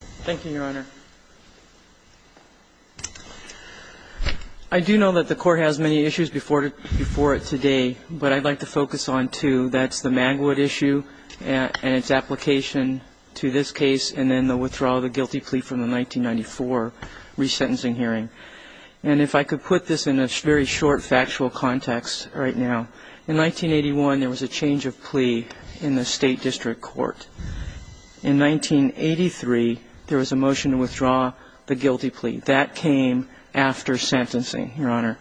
Thank you, Your Honor. I do know that the Court has many issues before it today, but I'd like to focus on two. That's the Magwood issue and its application to this case, and then the withdrawal of the guilty plea from the 1994 resentencing hearing. And if I could put this in a very short factual context right now. In 1981, there was a change of plea in the State District Court. In 1983, there was a motion to withdraw the guilty plea. That came after sentencing, Your Honor.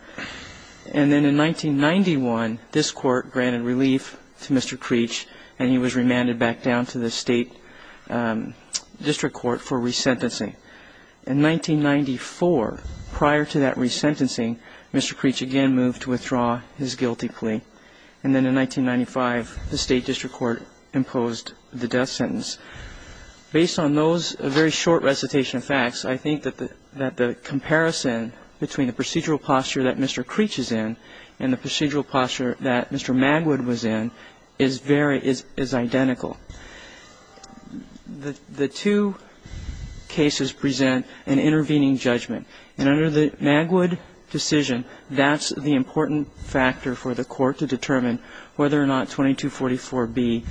And then in 1991, this Court granted relief to Mr. Creech, and he was remanded back down to the State District Court for resentencing. In 1994, prior to that resentencing, Mr. Creech again moved to withdraw his guilty plea. And then in 1995, the State District Court imposed the death sentence. Based on those very short recitation of facts, I think that the comparison between the procedural posture that Mr. Creech is in and the procedural posture that Mr. Magwood was in is very — is identical. The two cases present an intervening judgment. And under the Magwood decision, that's the important factor for the Court to determine whether or not 2244B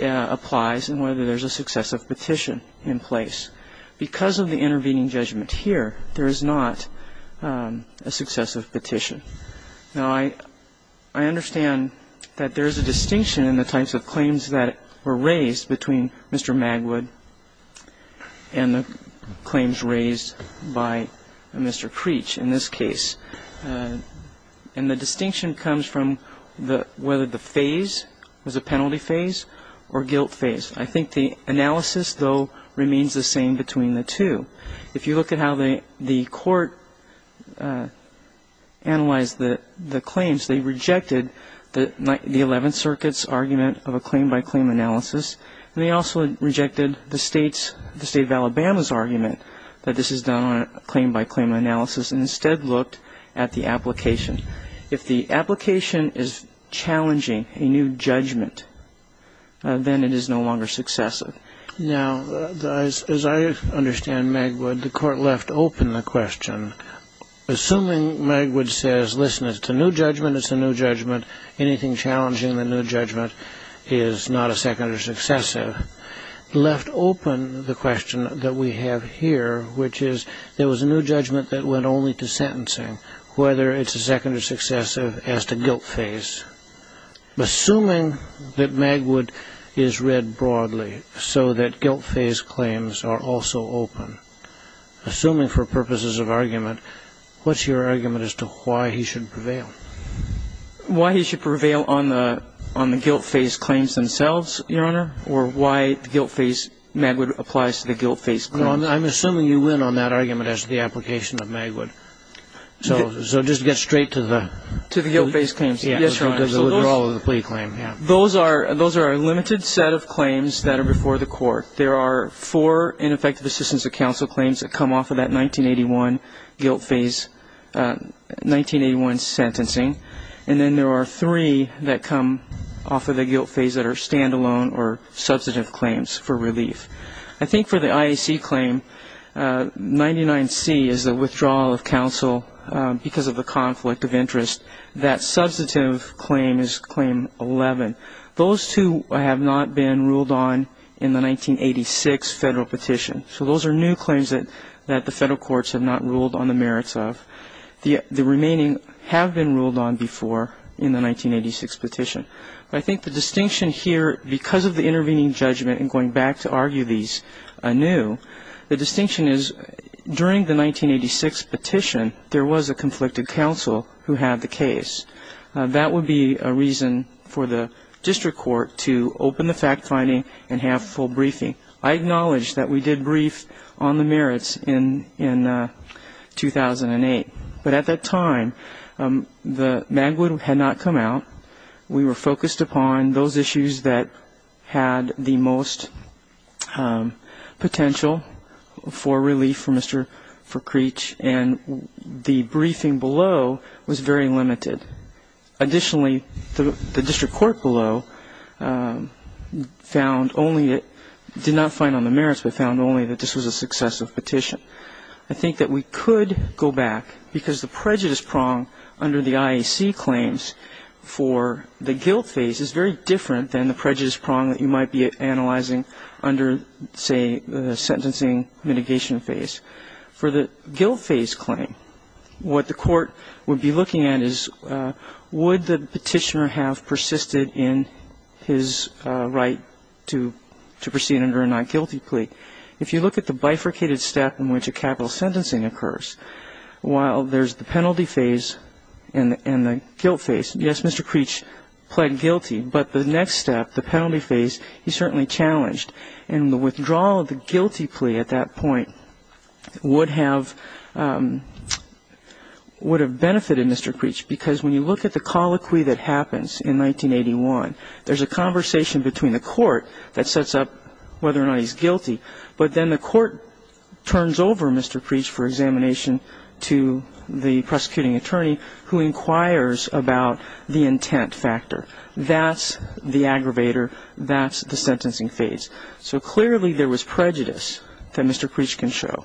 applies and whether there's a successive petition in place. Because of the intervening judgment here, there is not a successive petition. Now, I understand that there's a distinction in the types of claims that were raised between Mr. Magwood and the claims raised by Mr. Creech in this case. And the distinction comes from the — whether the phase was a penalty phase or guilt phase. I think the analysis, though, remains the same between the two. If you look at how the Court analyzed the claims, they rejected the Eleventh Circuit's argument of a claim-by-claim analysis, and they also rejected the State of Alabama's argument that this is done on a claim-by-claim analysis and instead looked at the application. If the application is challenging a new judgment, then it is no longer successive. Now, as I understand Magwood, the Court left open the question — assuming Magwood says, listen, it's a new judgment, it's a new judgment, anything challenging the new judgment is not a second or successive — left open the question that we have here, which is, there was a new judgment that went only to sentencing, whether it's a second or successive as to guilt phase. Assuming that Magwood is read broadly so that guilt phase claims are also open, assuming for purposes of argument, what's your argument as to why he should prevail? Why he should prevail on the guilt phase claims themselves, Your Honor, or why the guilt phase — Magwood applies to the guilt phase claims? I'm assuming you win on that argument as to the application of Magwood. So just get straight to the — To the guilt phase claims. Yes, Your Honor. The withdrawal of the plea claim, yeah. Those are a limited set of claims that are before the Court. There are four ineffective assistance of counsel claims that come off of that 1981 guilt phase — 1981 sentencing. And then there are three that come off of the guilt phase that are standalone or substantive claims for relief. I think for the IAC claim, 99C is the withdrawal of counsel because of the conflict of interest. That substantive claim is claim 11. Those two have not been ruled on in the 1986 federal petition. So those are new claims that the federal courts have not ruled on the merits of. The remaining have been ruled on before in the 1986 petition. But I think the distinction here, because of the intervening judgment and going back to argue these anew, the distinction is during the 1986 petition, there was a conflicted counsel who had the case. That would be a reason for the district court to open the fact-finding and have full briefing. I acknowledge that we did brief on the merits in 2008. But at that time, the Magwood had not come out. We were focused upon those issues that had the most potential for relief for Mr. Ferkreich. And the briefing below was very limited. Additionally, the district court below found only — did not find on the merits, but found only that this was a successive petition. I think that we could go back, because the prejudice prong under the IAC claims for the guilt phase is very different than the prejudice prong that you might be analyzing under, say, the sentencing mitigation phase. For the guilt phase claim, what the court would be looking at is would the petitioner have persisted in his right to proceed under a not guilty plea. If you look at the bifurcated step in which a capital sentencing occurs, while there's the penalty phase and the guilt phase, yes, Mr. Ferkreich pled guilty. But the next step, the penalty phase, he certainly challenged. And the withdrawal of the guilty plea at that point would have benefited Mr. Ferkreich, because when you look at the colloquy that happens in 1981, there's a conversation between the court that sets up whether or not he's guilty, but then the court turns over Mr. Ferkreich for examination to the prosecuting attorney who inquires about the intent factor. That's the aggravator. That's the sentencing phase. So clearly there was prejudice that Mr. Ferkreich can show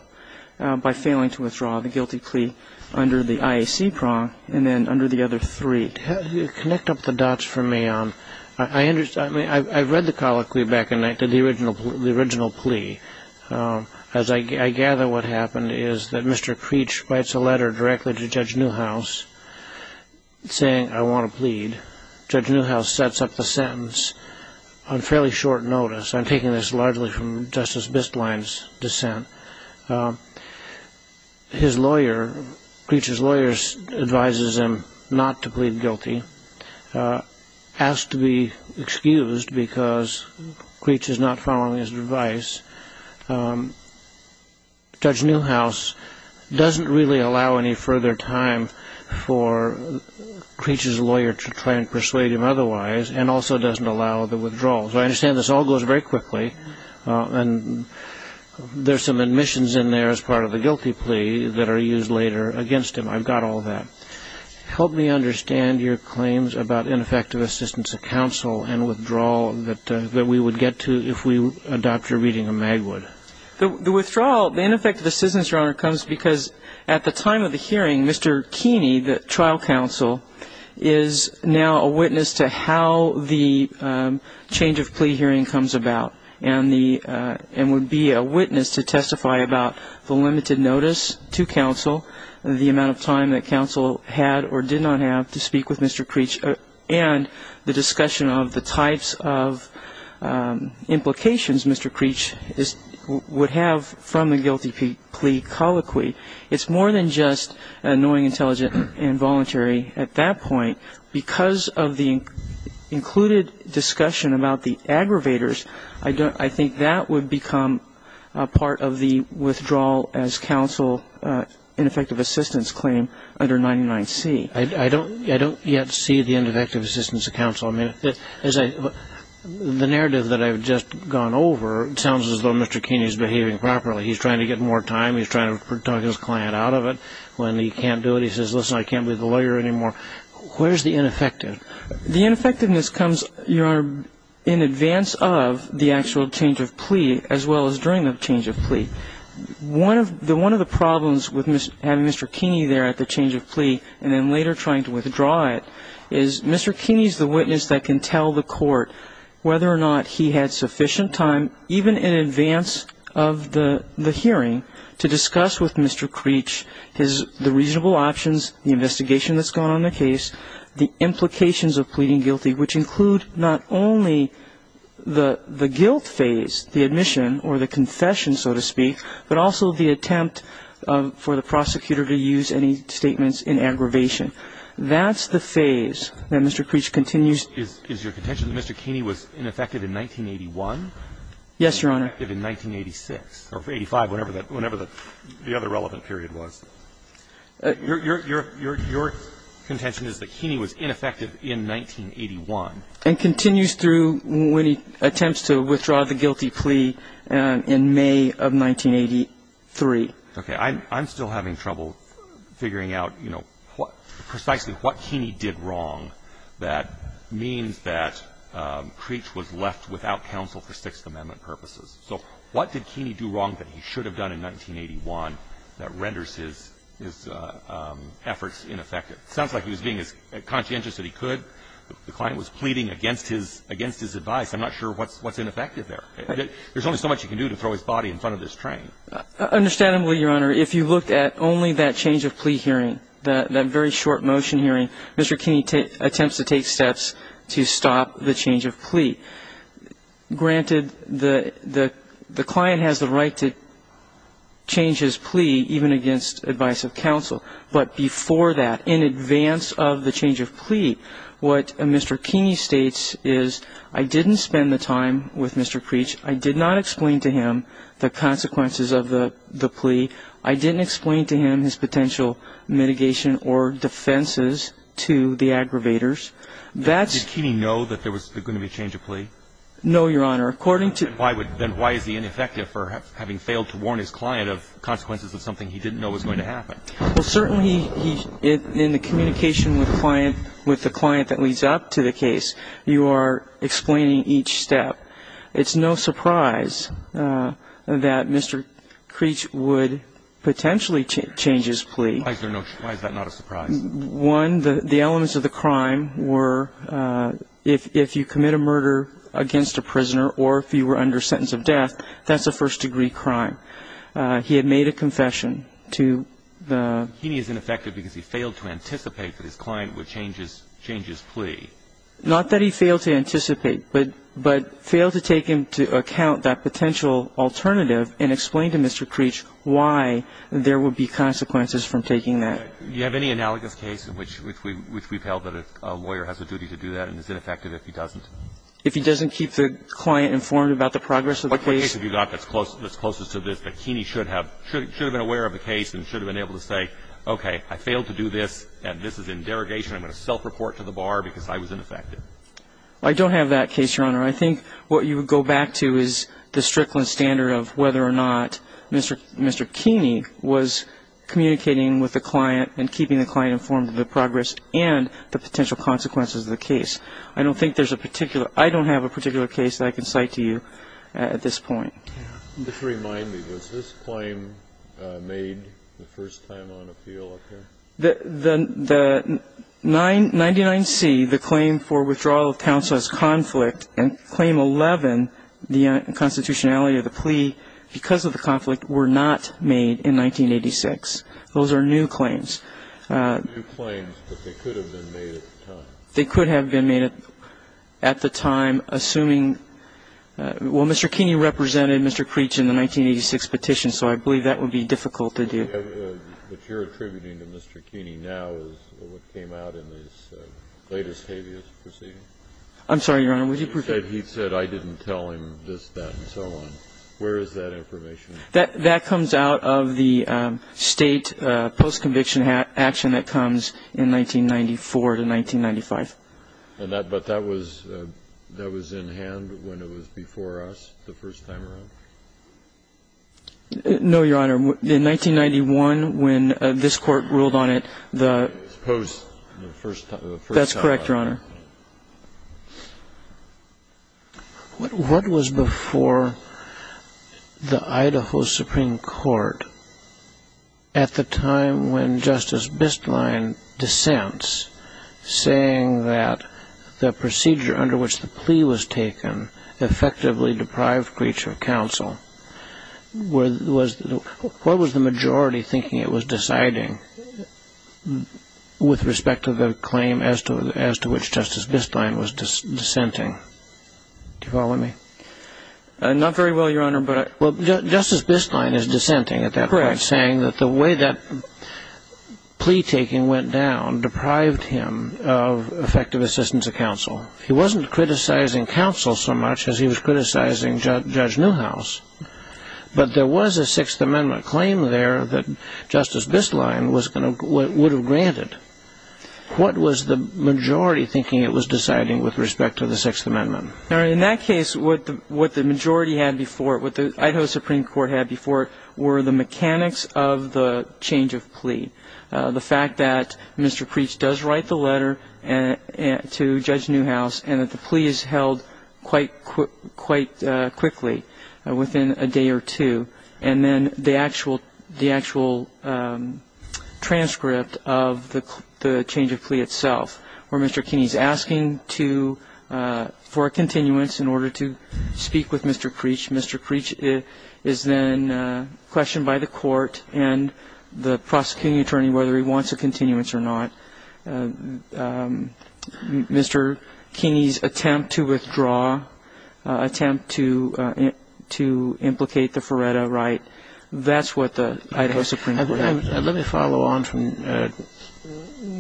by failing to withdraw the guilty plea under the IAC prong and then under the other three. Connect up the dots for me. I've read the colloquy back in the original plea. As I gather what happened is that Mr. Kreech writes a letter directly to Judge Newhouse saying, I want to plead. Judge Newhouse sets up the sentence on fairly short notice. I'm taking this largely from Justice Bistlein's dissent. His lawyer, Kreech's lawyer, advises him not to plead guilty, asked to be excused because Kreech is not following his advice. Judge Newhouse doesn't really allow any further time for Kreech's lawyer to try and persuade him otherwise and also doesn't allow the withdrawal. So I understand this all goes very quickly, and there's some admissions in there as part of the guilty plea that are used later against him. I've got all that. Help me understand your claims about ineffective assistance of counsel and withdrawal that we would get to if we adopt your reading of Magwood. The withdrawal, the ineffective assistance, Your Honor, comes because at the time of the hearing, Mr. Keeney, the trial counsel, is now a witness to how the change of plea hearing comes about and would be a witness to testify about the limited notice to counsel, the amount of time that counsel had or did not have to speak with Mr. Kreech, and the discussion of the types of implications Mr. Kreech would have from the guilty plea colloquy. It's more than just annoying, intelligent, involuntary at that point. Because of the included discussion about the aggravators, I think that would become part of the withdrawal as counsel ineffective assistance claim under 99C. I don't yet see the ineffective assistance of counsel. I mean, the narrative that I've just gone over, it sounds as though Mr. Keeney is behaving properly. He's trying to get more time. He's trying to talk his client out of it. When he can't do it, he says, listen, I can't be the lawyer anymore. Where's the ineffective? The ineffectiveness comes, Your Honor, in advance of the actual change of plea as well as during the change of plea. One of the problems with having Mr. Keeney there at the change of plea and then later trying to withdraw it is Mr. Keeney is the witness that can tell the court whether or not he had sufficient time, even in advance of the hearing, to discuss with Mr. Creech the reasonable options, the investigation that's going on in the case, the implications of pleading guilty, which include not only the guilt phase, the admission or the confession, so to speak, but also the attempt for the prosecutor to use any statements in aggravation. That's the phase that Mr. Creech continues. Is your contention that Mr. Keeney was ineffective in 1981? Yes, Your Honor. In 1986, or 85, whenever the other relevant period was. Your contention is that Keeney was ineffective in 1981. And continues through when he attempts to withdraw the guilty plea in May of 1983. Okay. I'm still having trouble figuring out, you know, precisely what Keeney did wrong that means that Creech was left without counsel for Sixth Amendment purposes. So what did Keeney do wrong that he should have done in 1981 that renders his efforts ineffective? It sounds like he was being as conscientious as he could. The client was pleading against his advice. I'm not sure what's ineffective there. There's only so much he can do to throw his body in front of this train. Understandably, Your Honor, if you look at only that change of plea hearing, that very short motion hearing, Mr. Keeney attempts to take steps to stop the change of plea. Granted, the client has the right to change his plea even against advice of counsel. But before that, in advance of the change of plea, what Mr. Keeney states is, I didn't spend the time with Mr. Creech. I did not explain to him the consequences of the plea. I didn't explain to him his potential mitigation or defenses to the aggravators. Did Keeney know that there was going to be a change of plea? No, Your Honor. Then why is he ineffective for having failed to warn his client of consequences of something he didn't know was going to happen? Well, certainly in the communication with the client that leads up to the case, you are explaining each step. It's no surprise that Mr. Creech would potentially change his plea. Why is that not a surprise? One, the elements of the crime were if you commit a murder against a prisoner or if you were under sentence of death, that's a first-degree crime. He had made a confession to the ---- Keeney is ineffective because he failed to anticipate that his client would change his plea. Not that he failed to anticipate, but failed to take into account that potential alternative and explain to Mr. Creech why there would be consequences from taking that. Do you have any analogous case in which we've held that a lawyer has a duty to do that and is ineffective if he doesn't? If he doesn't keep the client informed about the progress of the case? What case have you got that's closest to this that Keeney should have been aware of the case and should have been able to say, okay, I failed to do this and this is a derogation, I'm going to self-report to the bar because I was ineffective? I don't have that case, Your Honor. I think what you would go back to is the Strickland standard of whether or not Mr. Keeney was communicating with the client and keeping the client informed of the progress and the potential consequences of the case. I don't think there's a particular ---- I don't have a particular case that I can cite to you at this point. Just to remind me, was this claim made the first time on appeal up here? The 99C, the claim for withdrawal of counsel as conflict, and claim 11, the constitutionality of the plea, because of the conflict, were not made in 1986. Those are new claims. New claims, but they could have been made at the time. They could have been made at the time, assuming ---- well, Mr. Keeney represented Mr. Creech in the 1986 petition, so I believe that would be difficult to do. But you're attributing to Mr. Keeney now is what came out in his latest habeas proceeding. I'm sorry, Your Honor. Would you prefer to ---- He said I didn't tell him this, that and so on. Where is that information? That comes out of the State post-conviction action that comes in 1994 to 1995. But that was in hand when it was before us the first time around? No, Your Honor. In 1991, when this Court ruled on it, the ---- Suppose the first time around. That's correct, Your Honor. What was before the Idaho Supreme Court at the time when Justice Bistlein dissents saying that the procedure under which the plea was taken effectively deprived Mr. Creech of counsel? What was the majority thinking it was deciding with respect to the claim as to which Justice Bistlein was dissenting? Do you follow me? Not very well, Your Honor, but ---- Well, Justice Bistlein is dissenting at that point, saying that the way that plea taking went down deprived him of effective assistance of counsel. He wasn't criticizing counsel so much as he was criticizing Judge Newhouse. But there was a Sixth Amendment claim there that Justice Bistlein would have granted. What was the majority thinking it was deciding with respect to the Sixth Amendment? In that case, what the majority had before it, what the Idaho Supreme Court had before it, were the mechanics of the change of plea. The fact that Mr. Creech does write the letter to Judge Newhouse and that the plea is held quite quickly, within a day or two. And then the actual transcript of the change of plea itself, where Mr. Kinney is asking for a continuance in order to speak with Mr. Creech. Mr. Creech is then questioned by the court and the prosecuting attorney whether he wants a continuance or not. Mr. Kinney's attempt to withdraw, attempt to implicate the Feretta right, that's what the Idaho Supreme Court had. Let me follow on from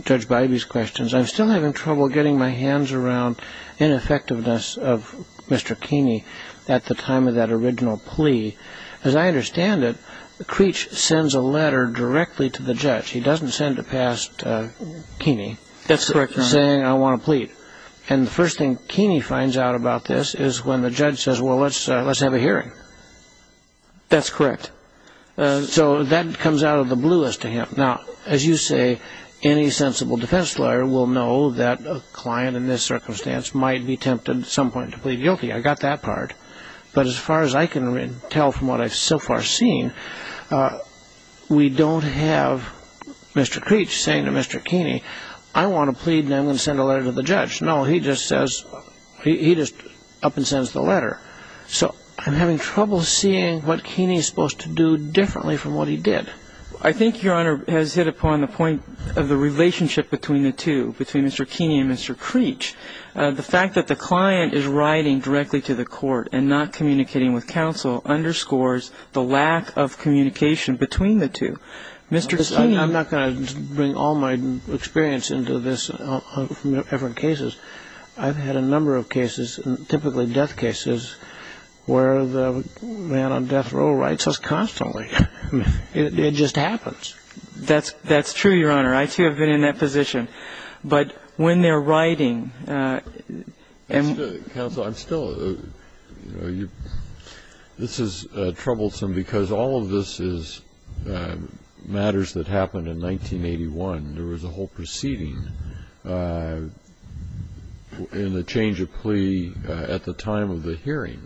Judge Bybee's questions. I'm still having trouble getting my hands around ineffectiveness of Mr. Kinney at the time of that original plea. As I understand it, Creech sends a letter directly to the judge. He doesn't send it past Kinney. That's correct, Your Honor. Saying, I want a plea. And the first thing Kinney finds out about this is when the judge says, well, let's have a hearing. That's correct. So that comes out of the bluest to him. Now, as you say, any sensible defense lawyer will know that a client in this circumstance might be tempted at some point to plead guilty. I got that part. But as far as I can tell from what I've so far seen, we don't have Mr. Creech saying to Mr. Kinney, I want a plea and I'm going to send a letter to the judge. No, he just says, he just up and sends the letter. So I'm having trouble seeing what Kinney is supposed to do differently from what he did. I think, Your Honor, has hit upon the point of the relationship between the two, between Mr. Kinney and Mr. Creech. The fact that the client is writing directly to the court and not communicating with counsel underscores the lack of communication between the two. I'm not going to bring all my experience into this from different cases. I've had a number of cases, typically death cases, where the man on death row writes us constantly. It just happens. That's true, Your Honor. I, too, have been in that position. But when they're writing and the counsel, I'm still, you know, this is troublesome because all of this is matters that happened in 1981. There was a whole proceeding in the change of plea at the time of the hearing.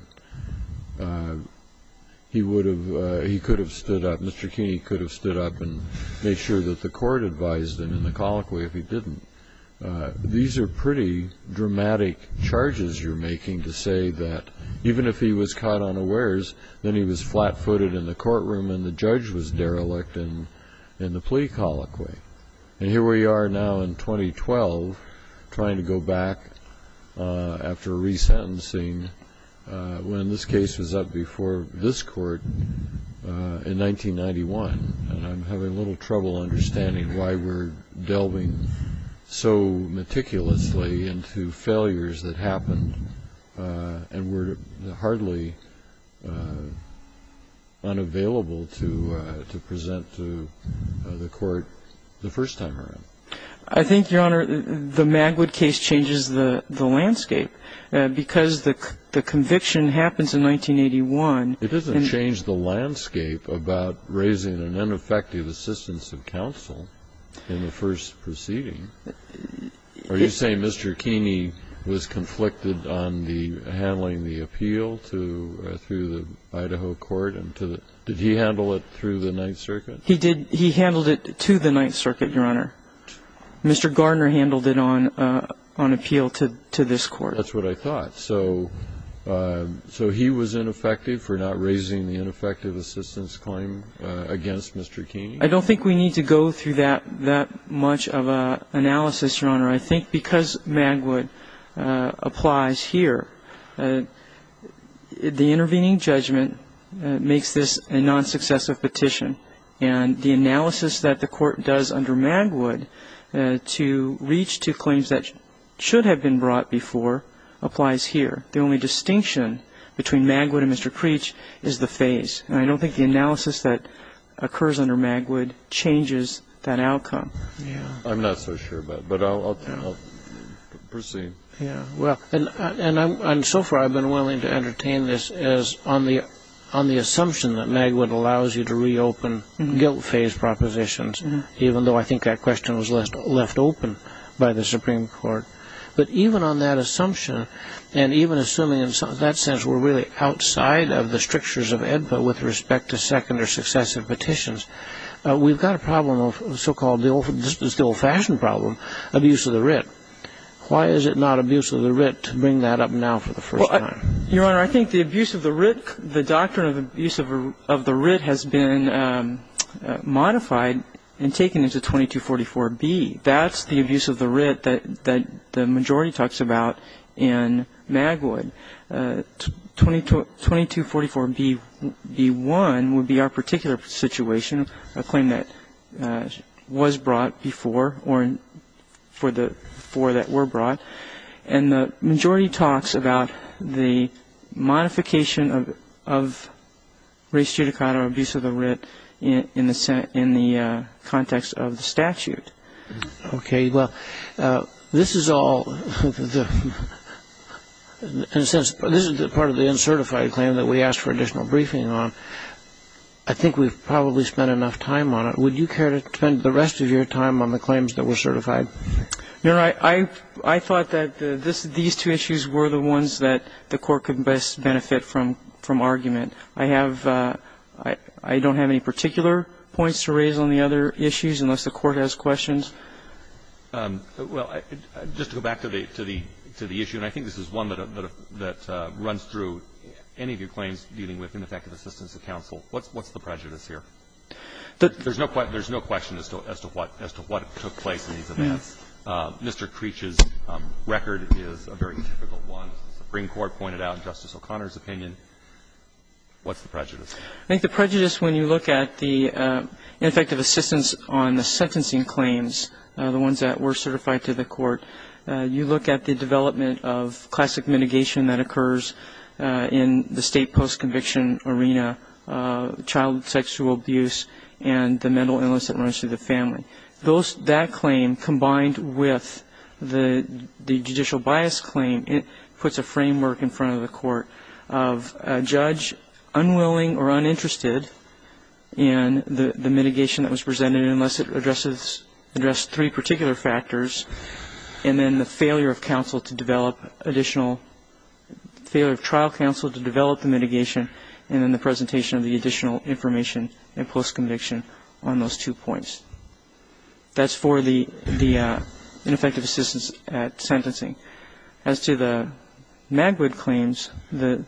He would have, he could have stood up, Mr. Kinney could have stood up and made sure that the court advised him in the colloquy if he didn't. These are pretty dramatic charges you're making to say that even if he was caught unawares, then he was flat-footed in the courtroom and the judge was derelict in the plea colloquy. And here we are now in 2012 trying to go back after resentencing when this case was up before this court in 1991. And I'm having a little trouble understanding why we're delving so meticulously into failures that happened and we're hardly unavailable to present to the court the first time around. I think, Your Honor, the Magwood case changes the landscape because the conviction happens in 1981. It doesn't change the landscape about raising an ineffective assistance of counsel in the first proceeding. Are you saying Mr. Kinney was conflicted on handling the appeal through the Idaho court? Did he handle it through the Ninth Circuit? He handled it to the Ninth Circuit, Your Honor. Mr. Garner handled it on appeal to this court. That's what I thought. So he was ineffective for not raising the ineffective assistance claim against Mr. Kinney? I don't think we need to go through that much of an analysis, Your Honor. I think because Magwood applies here, the intervening judgment makes this a non-successive petition. And the analysis that the court does under Magwood to reach to claims that should have been brought before applies here. The only distinction between Magwood and Mr. Creech is the phase. And I don't think the analysis that occurs under Magwood changes that outcome. I'm not so sure about it, but I'll proceed. And so far I've been willing to entertain this as on the assumption that Magwood allows you to reopen guilt-phase propositions, even though I think that question was left open by the Supreme Court. But even on that assumption, and even assuming in that sense we're really outside of the strictures of AEDPA with respect to second or successive petitions, we've got a problem of so-called the old-fashioned problem, abuse of the writ. Why is it not abuse of the writ to bring that up now for the first time? Your Honor, I think the abuse of the writ, the doctrine of abuse of the writ has been modified and taken into 2244B. That's the abuse of the writ that the majority talks about in Magwood. 2244B1 would be our particular situation, a claim that was brought before or for the four that were brought. And the majority talks about the modification of res judicata, or abuse of the writ, in the context of the statute. Okay. Well, this is all, in a sense, this is part of the uncertified claim that we asked for additional briefing on. I think we've probably spent enough time on it. Would you care to spend the rest of your time on the claims that were certified? Your Honor, I thought that these two issues were the ones that the Court could best benefit from argument. I have no particular points to raise on the other issues, unless the Court has questions. Well, just to go back to the issue, and I think this is one that runs through any of your claims dealing with ineffective assistance of counsel. What's the prejudice here? There's no question as to what took place in these events. Mr. Creech's record is a very difficult one. The Supreme Court pointed out Justice O'Connor's opinion. What's the prejudice? I think the prejudice, when you look at the ineffective assistance on the sentencing claims, the ones that were certified to the Court, you look at the development of classic mitigation that occurs in the State post-conviction arena, child sexual abuse, and the mental illness that runs through the family. That claim, combined with the judicial bias claim, puts a framework in front of the Court of a judge unwilling or uninterested in the mitigation that was presented, unless it addressed three particular factors, and then the failure of trial counsel to develop the mitigation, and then the presentation of the additional information in post-conviction on those two points. That's for the ineffective assistance at sentencing. As to the Magwood claims, the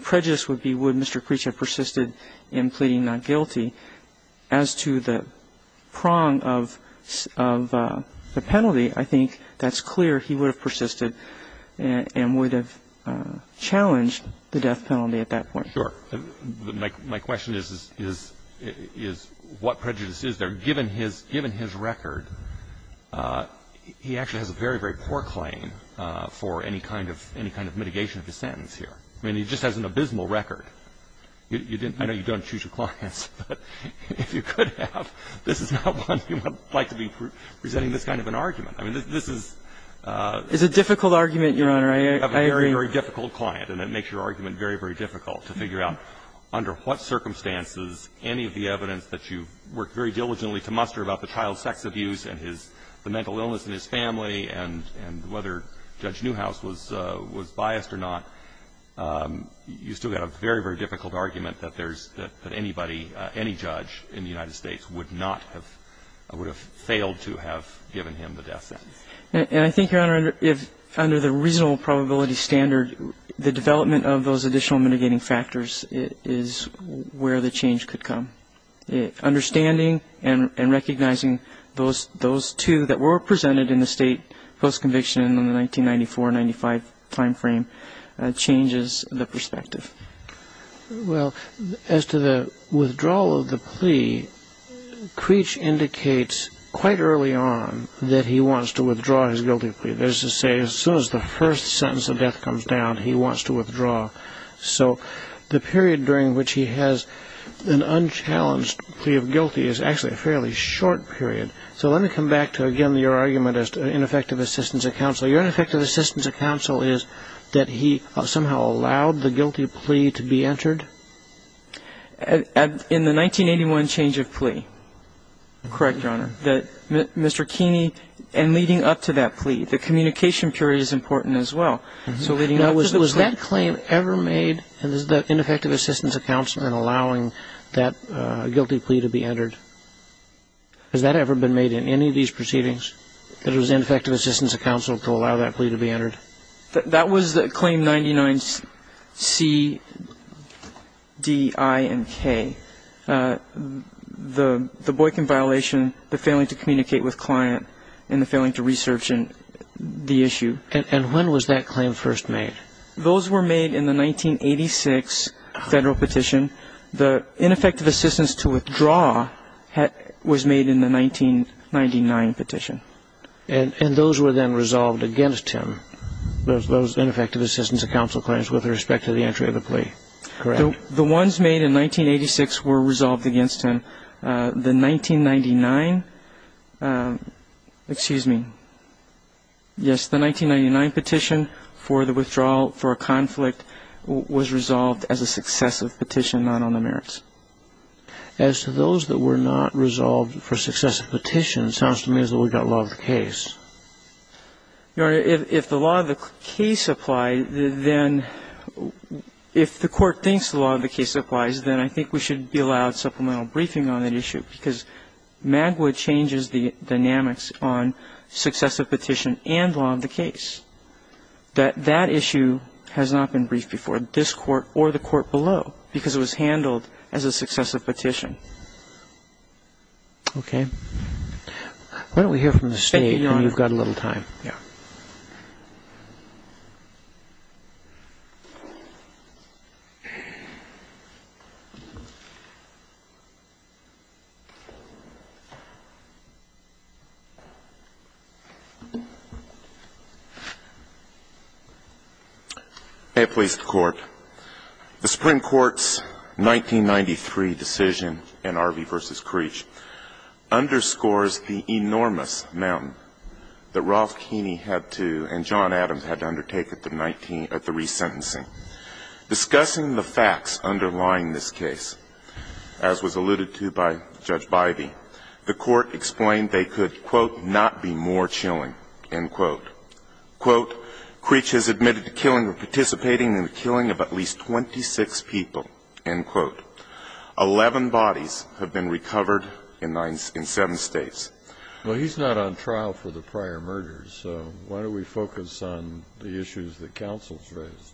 prejudice would be would Mr. Creech have persisted in pleading not guilty. As to the prong of the penalty, I think that's clear. He would have persisted and would have challenged the death penalty at that point. Sure. My question is, is what prejudice is there? Given his record, he actually has a very, very poor claim for any kind of mitigation of his sentence here. I mean, he just has an abysmal record. I know you don't choose your clients, but if you could have, this is not one you would like to be presenting this kind of an argument. I mean, this is a difficult argument, Your Honor. I agree. You have a very, very difficult client, and it makes your argument very, very difficult to figure out under what circumstances any of the evidence that you worked very diligently to muster about the child sex abuse and his the mental illness in his family and whether Judge Newhouse was biased or not. You still got a very, very difficult argument that there's anybody, any judge in the And I think, Your Honor, under the reasonable probability standard, the development of those additional mitigating factors is where the change could come. Understanding and recognizing those two that were presented in the State post-conviction in the 1994-95 time frame changes the perspective. Well, as to the withdrawal of the plea, Creech indicates quite early on that he was he wants to withdraw his guilty plea. That is to say, as soon as the first sentence of death comes down, he wants to withdraw. So the period during which he has an unchallenged plea of guilty is actually a fairly short period. So let me come back to, again, your argument as to ineffective assistance of counsel. Your ineffective assistance of counsel is that he somehow allowed the guilty plea to be entered? Correct, Your Honor. That Mr. Keeney, and leading up to that plea, the communication period is important as well. So leading up to the plea. Now, was that claim ever made, the ineffective assistance of counsel in allowing that guilty plea to be entered? Has that ever been made in any of these proceedings, that it was ineffective assistance of counsel to allow that plea to be entered? That was the Claim 99-C-D-I-N-K. The Boykin violation, the failing to communicate with client, and the failing to research the issue. And when was that claim first made? Those were made in the 1986 Federal petition. The ineffective assistance to withdraw was made in the 1999 petition. And those were then resolved against him, those ineffective assistance of counsel claims, with respect to the entry of the plea, correct? The ones made in 1986 were resolved against him. The 1999 petition for the withdrawal for a conflict was resolved as a successive petition, not on the merits. As to those that were not resolved for successive petitions, it sounds to me as though we've got law of the case. Your Honor, if the law of the case applies, then if the Court thinks the law of the case applies, then I think we should be allowed supplemental briefing on that issue, because Magwood changes the dynamics on successive petition and law of the case, that that issue has not been briefed before this Court or the Court below, because it was handled as a successive petition. Okay. Why don't we hear from the State, and you've got a little time. Thank you, Your Honor. May it please the Court. The Supreme Court's 1993 decision in Arvey v. Creech underscores the enormous amount that Ralph Keeney had to and John Adams had to undertake at the resentencing. Discussing the facts underlying this case, as was alluded to by Judge Bybee, the Court explained they could, quote, not be more chilling, end quote. Quote, Creech has admitted to killing or participating in the killing of at least 26 people, end quote. Eleven bodies have been recovered in seven States. Well, he's not on trial for the prior murders. So why don't we focus on the issues that counsel has raised?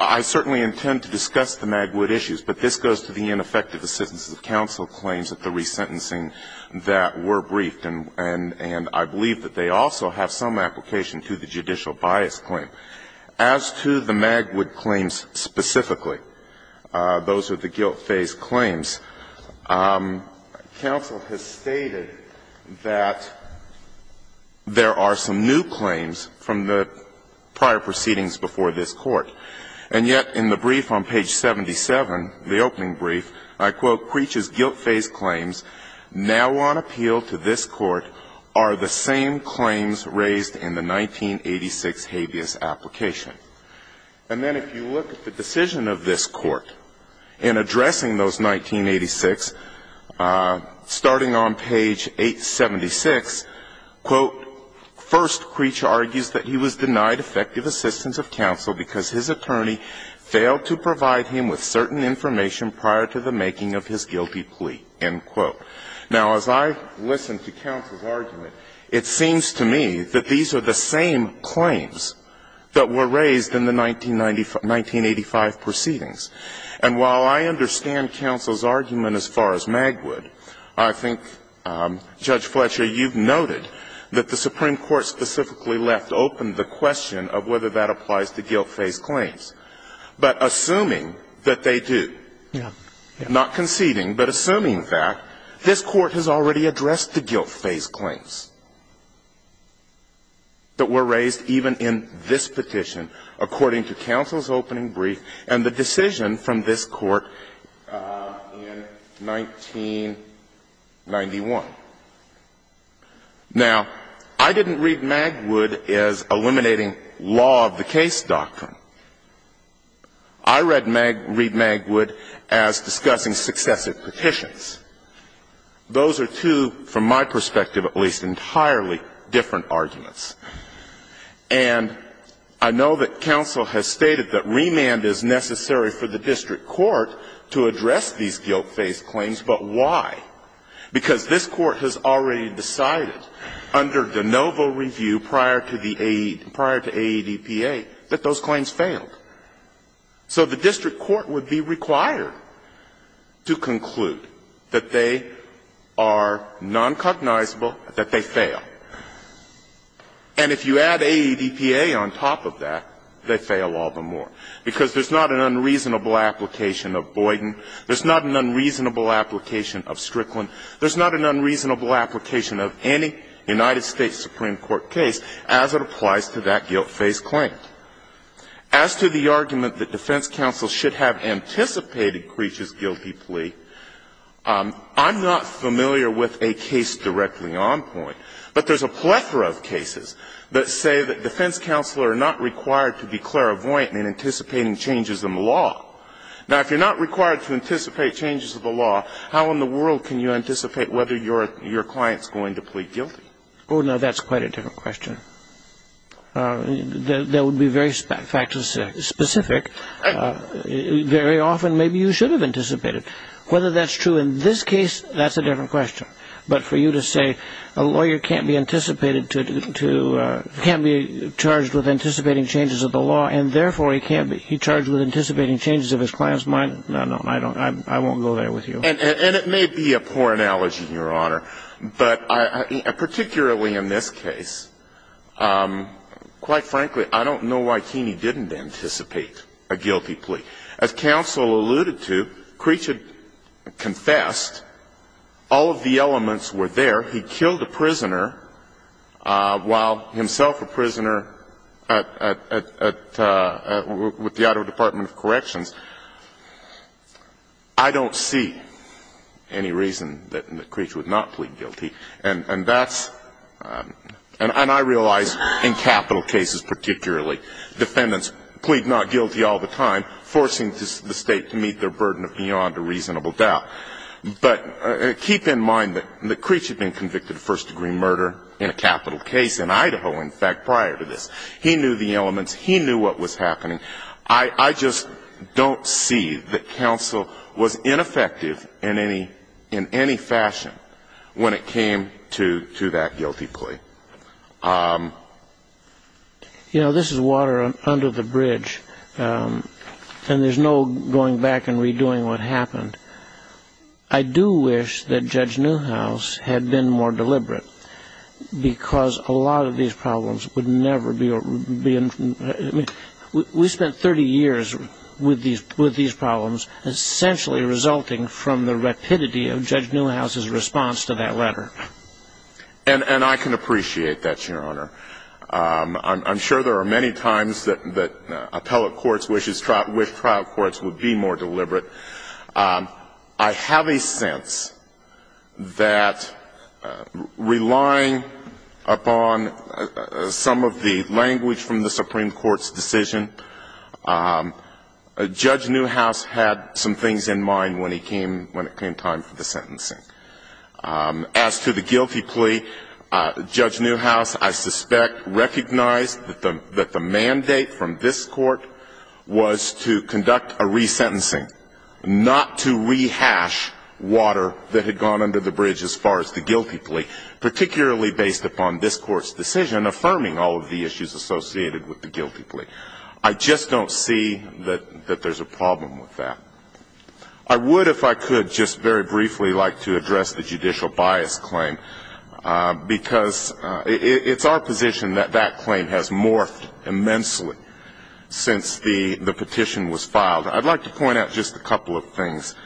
I certainly intend to discuss the Magwood issues, but this goes to the ineffective assistance of counsel claims at the resentencing that were briefed, and I believe that they also have some application to the judicial bias claim. As to the Magwood claims specifically, those are the guilt phase claims, counsel has stated that there are some new claims from the prior proceedings before this Court, and yet in the brief on page 77, the opening brief, I quote, Creech's guilt is that he was denied effective assistance of counsel because his attorney failed to provide him with certain information prior to the making of his guilty plea, end quote. Now, as I listen to counsel's argument, it seems to me that there are some new claims raised in the 1986 habeas application. It seems to me that these are the same claims that were raised in the 1985 proceedings. And while I understand counsel's argument as far as Magwood, I think, Judge Fletcher, you've noted that the Supreme Court specifically left open the question of whether that applies to guilt phase claims. But assuming that they do, not conceding, but assuming that, this Court has already addressed the guilt phase claims that were raised even in this petition, according to counsel's opening brief and the decision from this Court in 1991. Now, I didn't read Magwood as eliminating law of the case doctrine. I read Magwood as discussing successive petitions. Those are two, from my perspective at least, entirely different arguments. And I know that counsel has stated that remand is necessary for the district court to address these guilt phase claims, but why? Because this Court has already decided under de novo review prior to the AE, prior to AEDPA, that those claims failed. So the district court would be required to conclude that they are noncognizable, that they fail. And if you add AEDPA on top of that, they fail all the more, because there's not an unreasonable application of Boyden, there's not an unreasonable application of Strickland, there's not an unreasonable application of any United States Supreme Court case as it applies to that guilt phase claim. As to the argument that defense counsel should have anticipated Creech's guilty plea, I'm not familiar with a case directly on point. But there's a plethora of cases that say that defense counsel are not required to be clairvoyant in anticipating changes in the law. Now, if you're not required to anticipate changes in the law, how in the world can you anticipate whether your client's going to plead guilty? Oh, no, that's quite a different question. That would be very fact-specific. Very often, maybe you should have anticipated. Whether that's true in this case, that's a different question. But for you to say a lawyer can't be charged with anticipating changes of the law and therefore he can't be charged with anticipating changes of his client's mind, no, no, I won't go there with you. And it may be a poor analogy, Your Honor, but particularly in this case, quite frankly, I don't know why Keeney didn't anticipate a guilty plea. As counsel alluded to, Creech had confessed. All of the elements were there. He killed a prisoner while himself a prisoner at the auto department of corrections. I don't see any reason that Creech would not plead guilty, and that's – and I realize in capital cases particularly, defendants plead not guilty all the time, forcing the State to meet their burden of beyond a reasonable doubt. But keep in mind that Creech had been convicted of first-degree murder in a capital case in Idaho, in fact, prior to this. He knew the elements. He knew what was happening. I just don't see that counsel was ineffective in any fashion when it came to that guilty plea. You know, this is water under the bridge, and there's no going back and redoing what happened. I do wish that Judge Newhouse had been more deliberate, because a lot of these problems would never be – I mean, we spent 30 years with these problems, essentially resulting from the rapidity of Judge Newhouse's response to that letter. And I can appreciate that, Your Honor. I'm sure there are many times that appellate courts wish trial courts would be more deliberate. I have a sense that relying upon some of the language from the Supreme Court's decision, Judge Newhouse had some things in mind when it came time for the sentencing. As to the guilty plea, Judge Newhouse, I suspect, recognized that the mandate from this court was to conduct a resentencing. Not to rehash water that had gone under the bridge as far as the guilty plea, particularly based upon this court's decision affirming all of the issues associated with the guilty plea. I just don't see that there's a problem with that. I would, if I could, just very briefly like to address the judicial bias claim, because it's our position that that claim has morphed immensely since the petition was filed. I'd like to point out just a couple of things.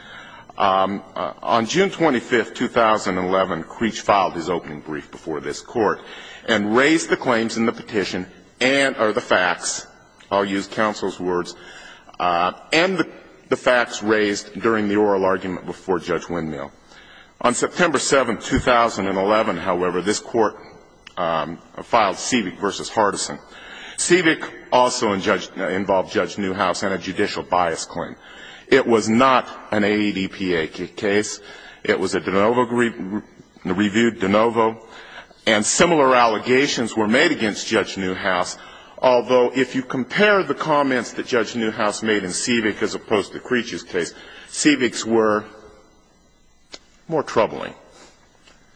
On June 25th, 2011, Creech filed his opening brief before this court and raised the claims in the petition and or the facts, I'll use counsel's words, and the facts raised during the oral argument before Judge Windmill. On September 7th, 2011, however, this court filed Cevik v. Hardison. Cevik also involved Judge Newhouse in a judicial bias claim. It was not an AEDPA case. It was a de novo, reviewed de novo, and similar allegations were made against Judge Newhouse, although if you compare the comments that Judge Newhouse made in Cevik as opposed to Creech's case, Ceviks were more troubling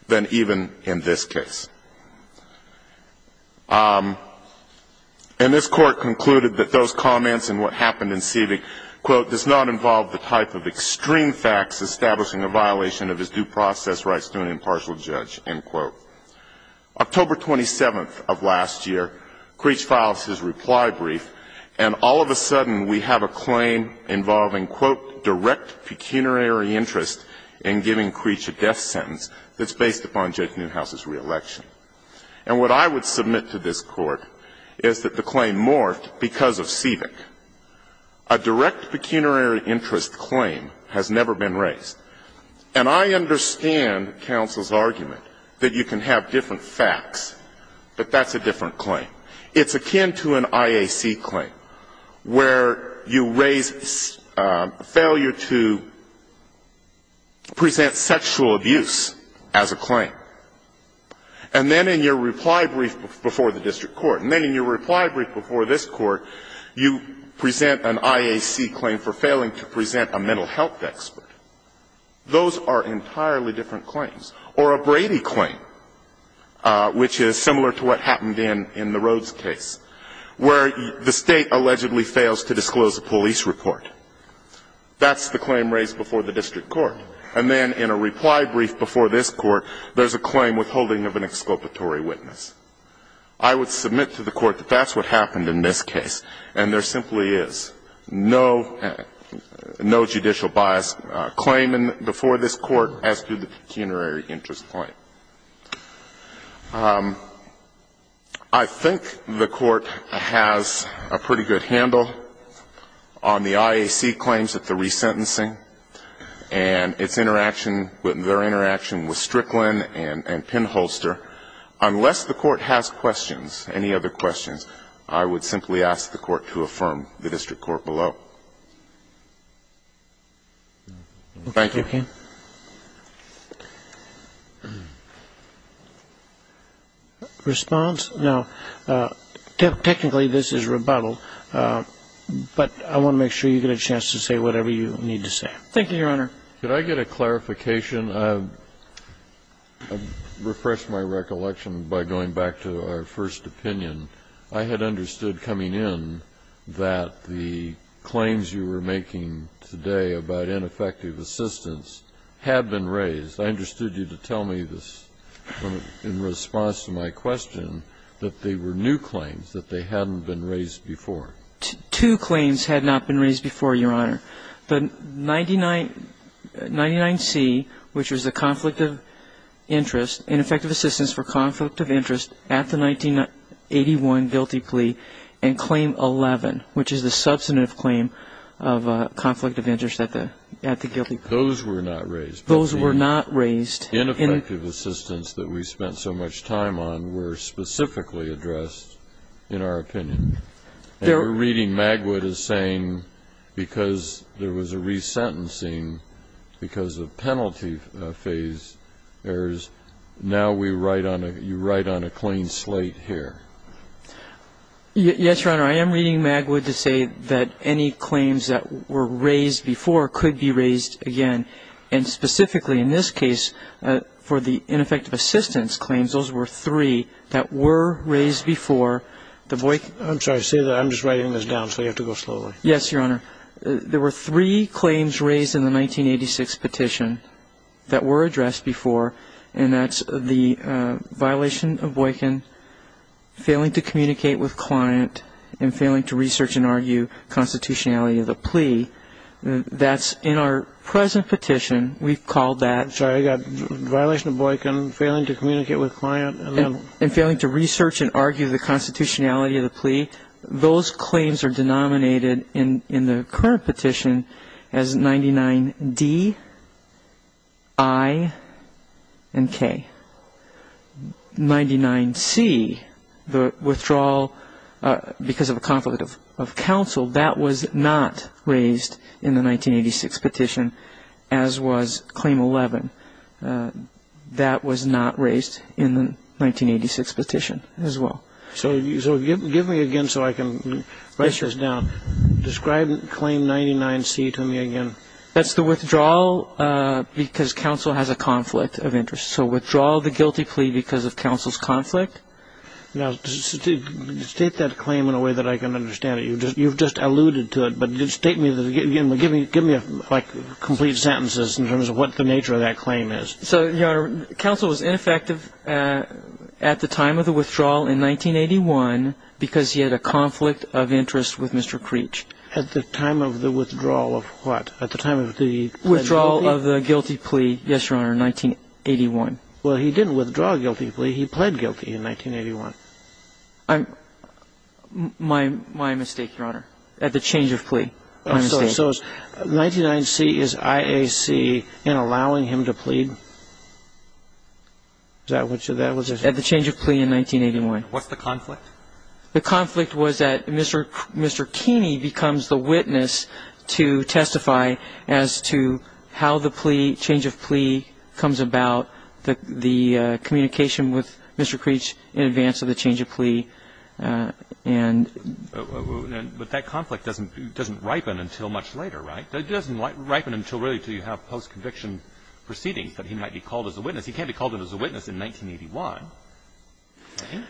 than even in this case. And this court concluded that those comments and what happened in Cevik, quote, does not involve the type of extreme facts establishing a violation of his due process rights to an impartial judge, end quote. October 27th of last year, Creech filed his reply brief, and all of a sudden we have a claim involving, quote, direct pecuniary interest in giving Creech a death sentence that's based upon Judge Newhouse's reelection. And what I would submit to this Court is that the claim morphed because of Cevik. A direct pecuniary interest claim has never been raised. And I understand counsel's argument that you can have different facts, but that's a different claim. It's akin to an IAC claim where you raise failure to present sexual abuse as a claim. And then in your reply brief before the district court, and then in your reply brief before this court, you present an IAC claim for failing to present a mental health expert. Those are entirely different claims. Or a Brady claim, which is similar to what happened in the Rhodes case, where the State allegedly fails to disclose a police report. That's the claim raised before the district court. And then in a reply brief before this court, there's a claim withholding of an exculpatory witness. I would submit to the Court that that's what happened in this case, and there simply is. No judicial bias claim before this Court, as to the pecuniary interest claim. I think the Court has a pretty good handle on the IAC claims at the resentencing. And its interaction, their interaction with Strickland and Penholster. Unless the Court has questions, any other questions, I would simply ask the Court to affirm the district court below. Thank you. Thank you. Response? No. Technically, this is rebuttal. But I want to make sure you get a chance to say whatever you need to say. Thank you, Your Honor. Could I get a clarification? I refresh my recollection by going back to our first opinion. I had understood coming in that the claims you were making today about ineffective assistance had been raised. I understood you to tell me this in response to my question, that they were new claims, that they hadn't been raised before. Two claims had not been raised before, Your Honor. The 99C, which was the conflict of interest, ineffective assistance for conflict of interest at the 1981 guilty plea, and Claim 11, which is the substantive claim of conflict of interest at the guilty plea. Those were not raised. The ineffective assistance that we spent so much time on were specifically addressed in our opinion. And we're reading Magwood as saying because there was a resentencing because of penalty phase errors, now we write on a ñ you write on a clean slate here. Yes, Your Honor. I am reading Magwood to say that any claims that were raised before could be raised again, and specifically in this case for the ineffective assistance claims, those were three that were raised before. I'm sorry. I'm just writing this down, so you have to go slowly. Yes, Your Honor. There were three claims raised in the 1986 petition that were addressed before, and that's the violation of Boykin, failing to communicate with client, and failing to research and argue constitutionality of the plea. That's in our present petition. We've called that ñ I'm sorry. I've got violation of Boykin, failing to communicate with client, and then ñ And failing to research and argue the constitutionality of the plea. Those claims are denominated in the current petition as 99D, I, and K. 99C, the withdrawal because of a conflict of counsel, that was not raised in the 1986 petition, as was claim 11. That was not raised in the 1986 petition as well. So give me again so I can write this down. Describe claim 99C to me again. That's the withdrawal because counsel has a conflict of interest. So withdrawal of the guilty plea because of counsel's conflict. Now, state that claim in a way that I can understand it. You've just alluded to it, but state it again. Give me, like, complete sentences in terms of what the nature of that claim is. So, Your Honor, counsel was ineffective at the time of the withdrawal in 1981 because he had a conflict of interest with Mr. Creech. At the time of the withdrawal of what? At the time of the ñ Withdrawal of the guilty plea. Withdrawal of the guilty plea, yes, Your Honor, in 1981. Well, he didn't withdraw a guilty plea. He pled guilty in 1981. I'm ñ my mistake, Your Honor, at the change of plea. My mistake. So 99C is IAC in allowing him to plead? Is that what you ñ that was it? At the change of plea in 1981. What's the conflict? The conflict was that Mr. ñ Mr. Keeney becomes the witness to testify as to how the plea ñ change of plea comes about, the ñ the communication with Mr. Creech in advance of the change of plea, and ñ But that conflict doesn't ñ doesn't ripen until much later, right? It doesn't ripen until really until you have post-conviction proceedings that he might be called as a witness. He can't be called as a witness in 1981. Okay.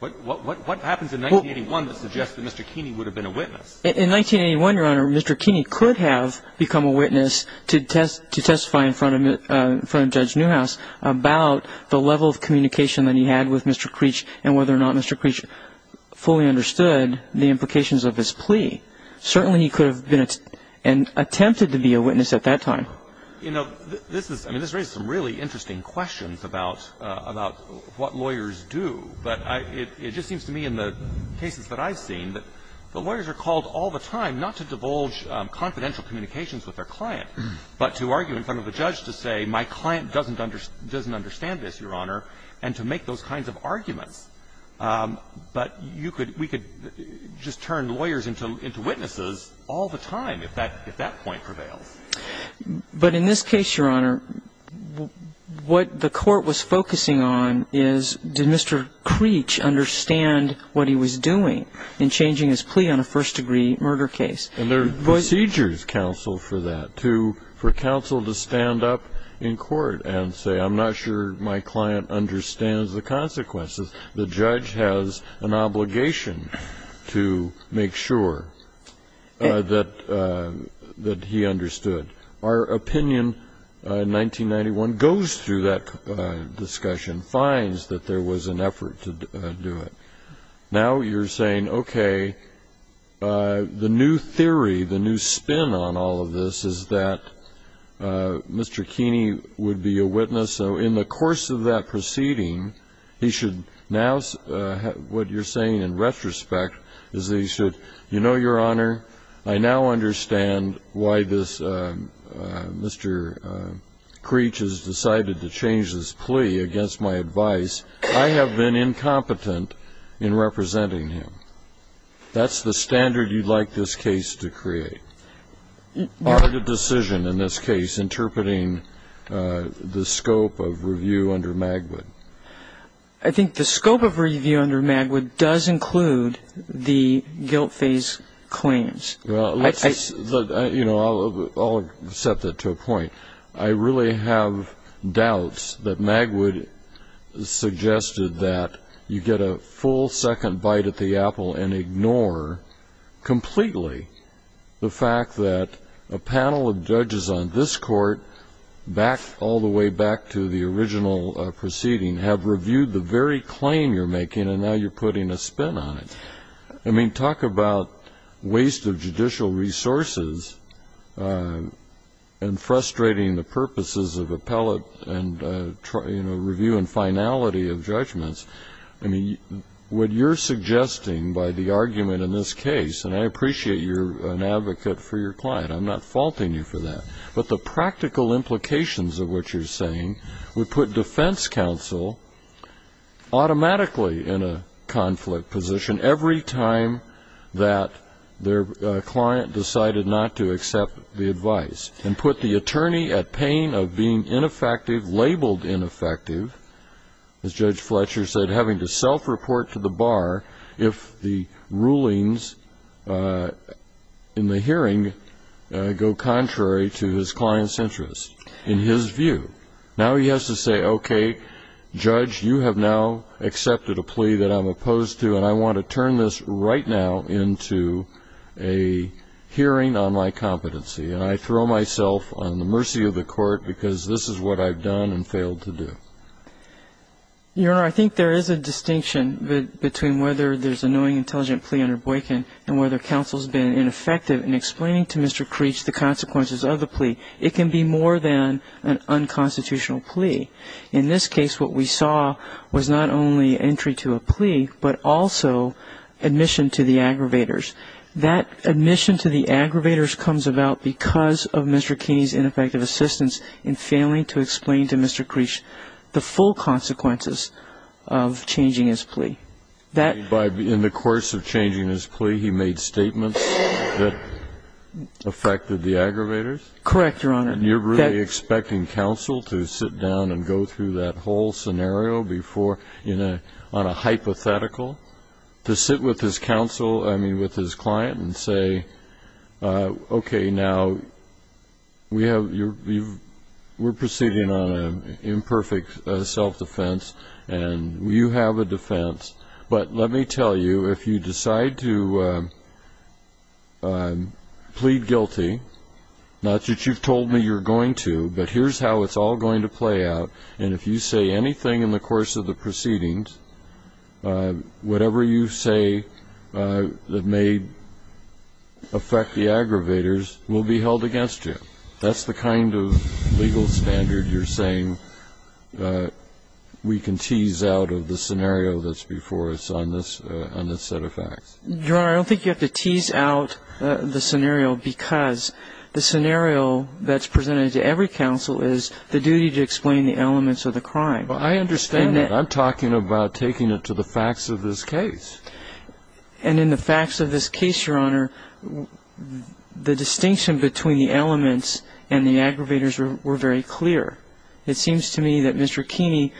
What happens in 1981 that suggests that Mr. Keeney would have been a witness? In 1981, Your Honor, Mr. Keeney could have become a witness to testify in front of ñ in front of Judge Newhouse about the level of communication that he had with Mr. Creech and whether or not Mr. Creech fully understood the implications of his plea. Certainly, he could have been an ñ attempted to be a witness at that time. Well, you know, this is ñ I mean, this raises some really interesting questions about ñ about what lawyers do, but I ñ it just seems to me in the cases that I've seen that the lawyers are called all the time not to divulge confidential communications with their client, but to argue in front of the judge to say, my client doesn't understand this, Your Honor, and to make those kinds of arguments. But you could ñ we could just turn lawyers into ñ into witnesses all the time if that ñ if that point prevails. But in this case, Your Honor, what the court was focusing on is, did Mr. Creech understand what he was doing in changing his plea on a first-degree murder case? And there are procedures, counsel, for that, to ñ for counsel to stand up in court and say, I'm not sure my client understands the consequences. The judge has an obligation to make sure that ñ that he understood. Our opinion in 1991 goes through that discussion, finds that there was an effort to do it. Now you're saying, okay, the new theory, the new spin on all of this is that Mr. Creech has decided to change his plea against my advice. I have been incompetent in representing him. That's the standard you'd like this case to create, part of the decision in this case, interpreting the scope of review. I think the scope of review under Magwood does include the guilt phase claims. Well, let's just ñ you know, I'll accept that to a point. I really have doubts that Magwood suggested that you get a full second bite at the apple and ignore completely the fact that a panel of judges on this court, back to the original proceeding, have reviewed the very claim you're making and now you're putting a spin on it. I mean, talk about waste of judicial resources and frustrating the purposes of appellate and ñ you know, review and finality of judgments. I mean, what you're suggesting by the argument in this case ñ and I appreciate you're an advocate for your client. I'm not faulting you for that. But the practical implications of what you're saying would put defense counsel automatically in a conflict position every time that their client decided not to accept the advice and put the attorney at pain of being ineffective, labeled ineffective, as Judge Fletcher said, having to self-report to the bar if the rulings in the hearing go contrary to his client's interests in his view. Now he has to say, okay, Judge, you have now accepted a plea that I'm opposed to, and I want to turn this right now into a hearing on my competency. And I throw myself on the mercy of the court because this is what I've done and failed to do. Your Honor, I think there is a distinction between whether there's a knowing, to Mr. Creech the consequences of the plea. It can be more than an unconstitutional plea. In this case, what we saw was not only entry to a plea, but also admission to the aggravators. That admission to the aggravators comes about because of Mr. Keeney's ineffective assistance in failing to explain to Mr. Creech the full consequences of changing his plea. In the course of changing his plea, he made statements that affected the aggravators? Correct, Your Honor. And you're really expecting counsel to sit down and go through that whole scenario on a hypothetical, to sit with his counsel, I mean with his client, and say, okay, now we're proceeding on an imperfect self-defense, and you have a defense. But let me tell you, if you decide to plead guilty, not that you've told me you're going to, but here's how it's all going to play out. And if you say anything in the course of the proceedings, whatever you say that may affect the aggravators will be held against you. That's the kind of legal standard you're saying we can tease out of the scenario that's before us on this set of facts. Your Honor, I don't think you have to tease out the scenario because the scenario that's presented to every counsel is the duty to explain the elements of the crime. Well, I understand that. I'm talking about taking it to the facts of this case. And in the facts of this case, Your Honor, the distinction between the elements and the aggravators were very clear. It seems to me that Mr. Keeney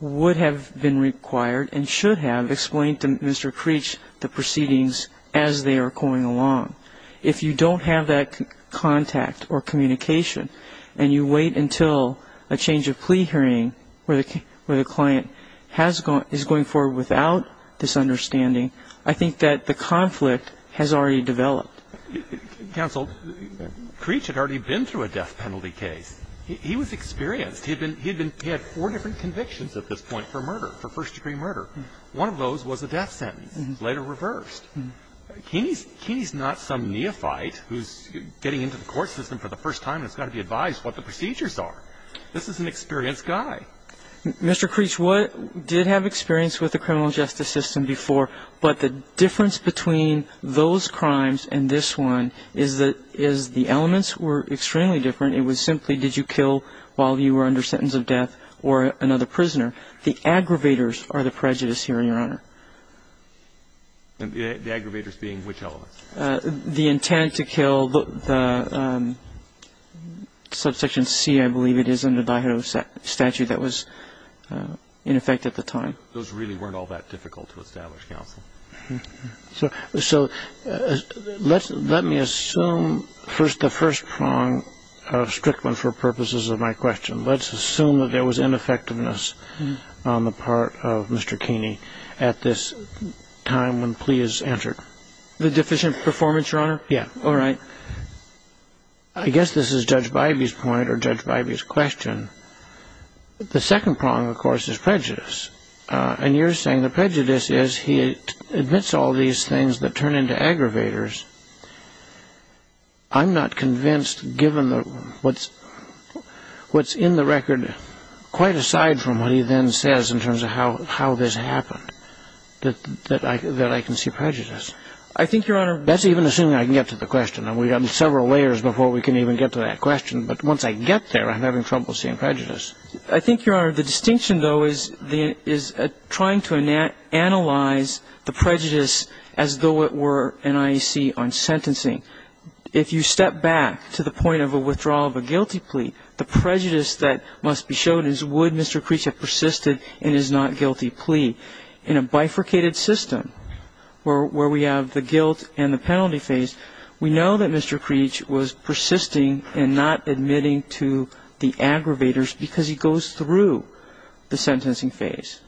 would have been required and should have explained to Mr. Creech the proceedings as they are going along. If you don't have that contact or communication, and you wait until a change of plea hearing where the client is going forward without this understanding, I think that the conflict has already developed. Counsel, Creech had already been through a death penalty case. He was experienced. He had four different convictions at this point for murder, for first-degree murder. One of those was a death sentence, later reversed. Keeney's not some neophyte who's getting into the court system for the first time and has got to be advised what the procedures are. This is an experienced guy. Mr. Creech did have experience with the criminal justice system before, but the difference between those crimes and this one is that the elements were extremely different. It was simply did you kill while you were under sentence of death or another prisoner. The aggravators are the prejudice here, Your Honor. The aggravators being which elements? The intent to kill, the subsection C, I believe it is, under the byhood of statute that was in effect at the time. Those really weren't all that difficult to establish, Counsel. So let me assume first the first prong of Strickland for purposes of my question. Let's assume that there was ineffectiveness on the part of Mr. Keeney at this time when plea is entered. The deficient performance, Your Honor? Yeah. All right. I guess this is Judge Bybee's point or Judge Bybee's question. The second prong, of course, is prejudice. And you're saying the prejudice is he admits all these things that turn into aggravators. I'm not convinced, given what's in the record, quite aside from what he then says in terms of how this happened, that I can see prejudice. I think, Your Honor ---- That's even assuming I can get to the question. We've got several layers before we can even get to that question. But once I get there, I'm having trouble seeing prejudice. I think, Your Honor, the distinction, though, is trying to analyze the prejudice as though it were NIEC on sentencing. If you step back to the point of a withdrawal of a guilty plea, the prejudice that must be shown is would Mr. Creech have persisted in his not-guilty plea? In a bifurcated system where we have the guilt and the penalty phase, we know that Mr. Creech was persisting in not admitting to the aggravators because he goes through the sentencing phase.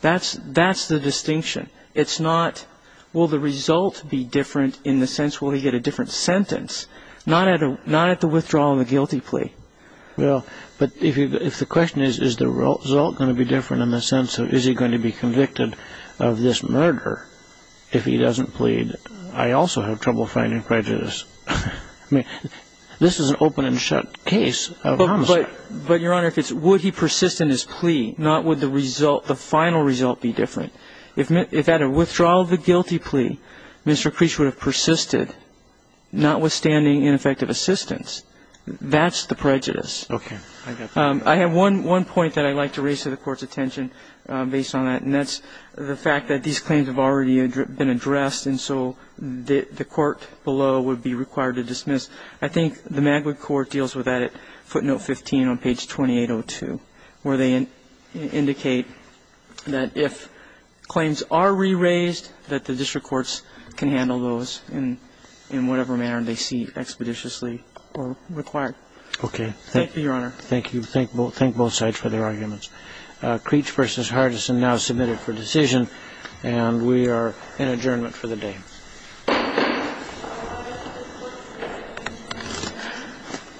That's the distinction. It's not will the result be different in the sense will he get a different sentence, not at the withdrawal of the guilty plea. Well, but if the question is, is the result going to be different in the sense of is he going to be convicted of this murder if he doesn't plead, I also have trouble finding prejudice. I mean, this is an open-and-shut case of homicide. But, Your Honor, it's would he persist in his plea, not would the final result be different. If at a withdrawal of the guilty plea, Mr. Creech would have persisted, notwithstanding ineffective assistance, that's the prejudice. Okay. I have one point that I'd like to raise to the Court's attention based on that, and that's the fact that these claims have already been addressed and so the court below would be required to dismiss. I think the Magwood Court deals with that at footnote 15 on page 2802, where they indicate that if claims are re-raised, that the district courts can handle those in whatever manner they see expeditiously required. Okay. Thank you, Your Honor. Thank you. Thank both sides for their arguments. Creech v. Hardison now submitted for decision, and we are in adjournment for the day. Thank you.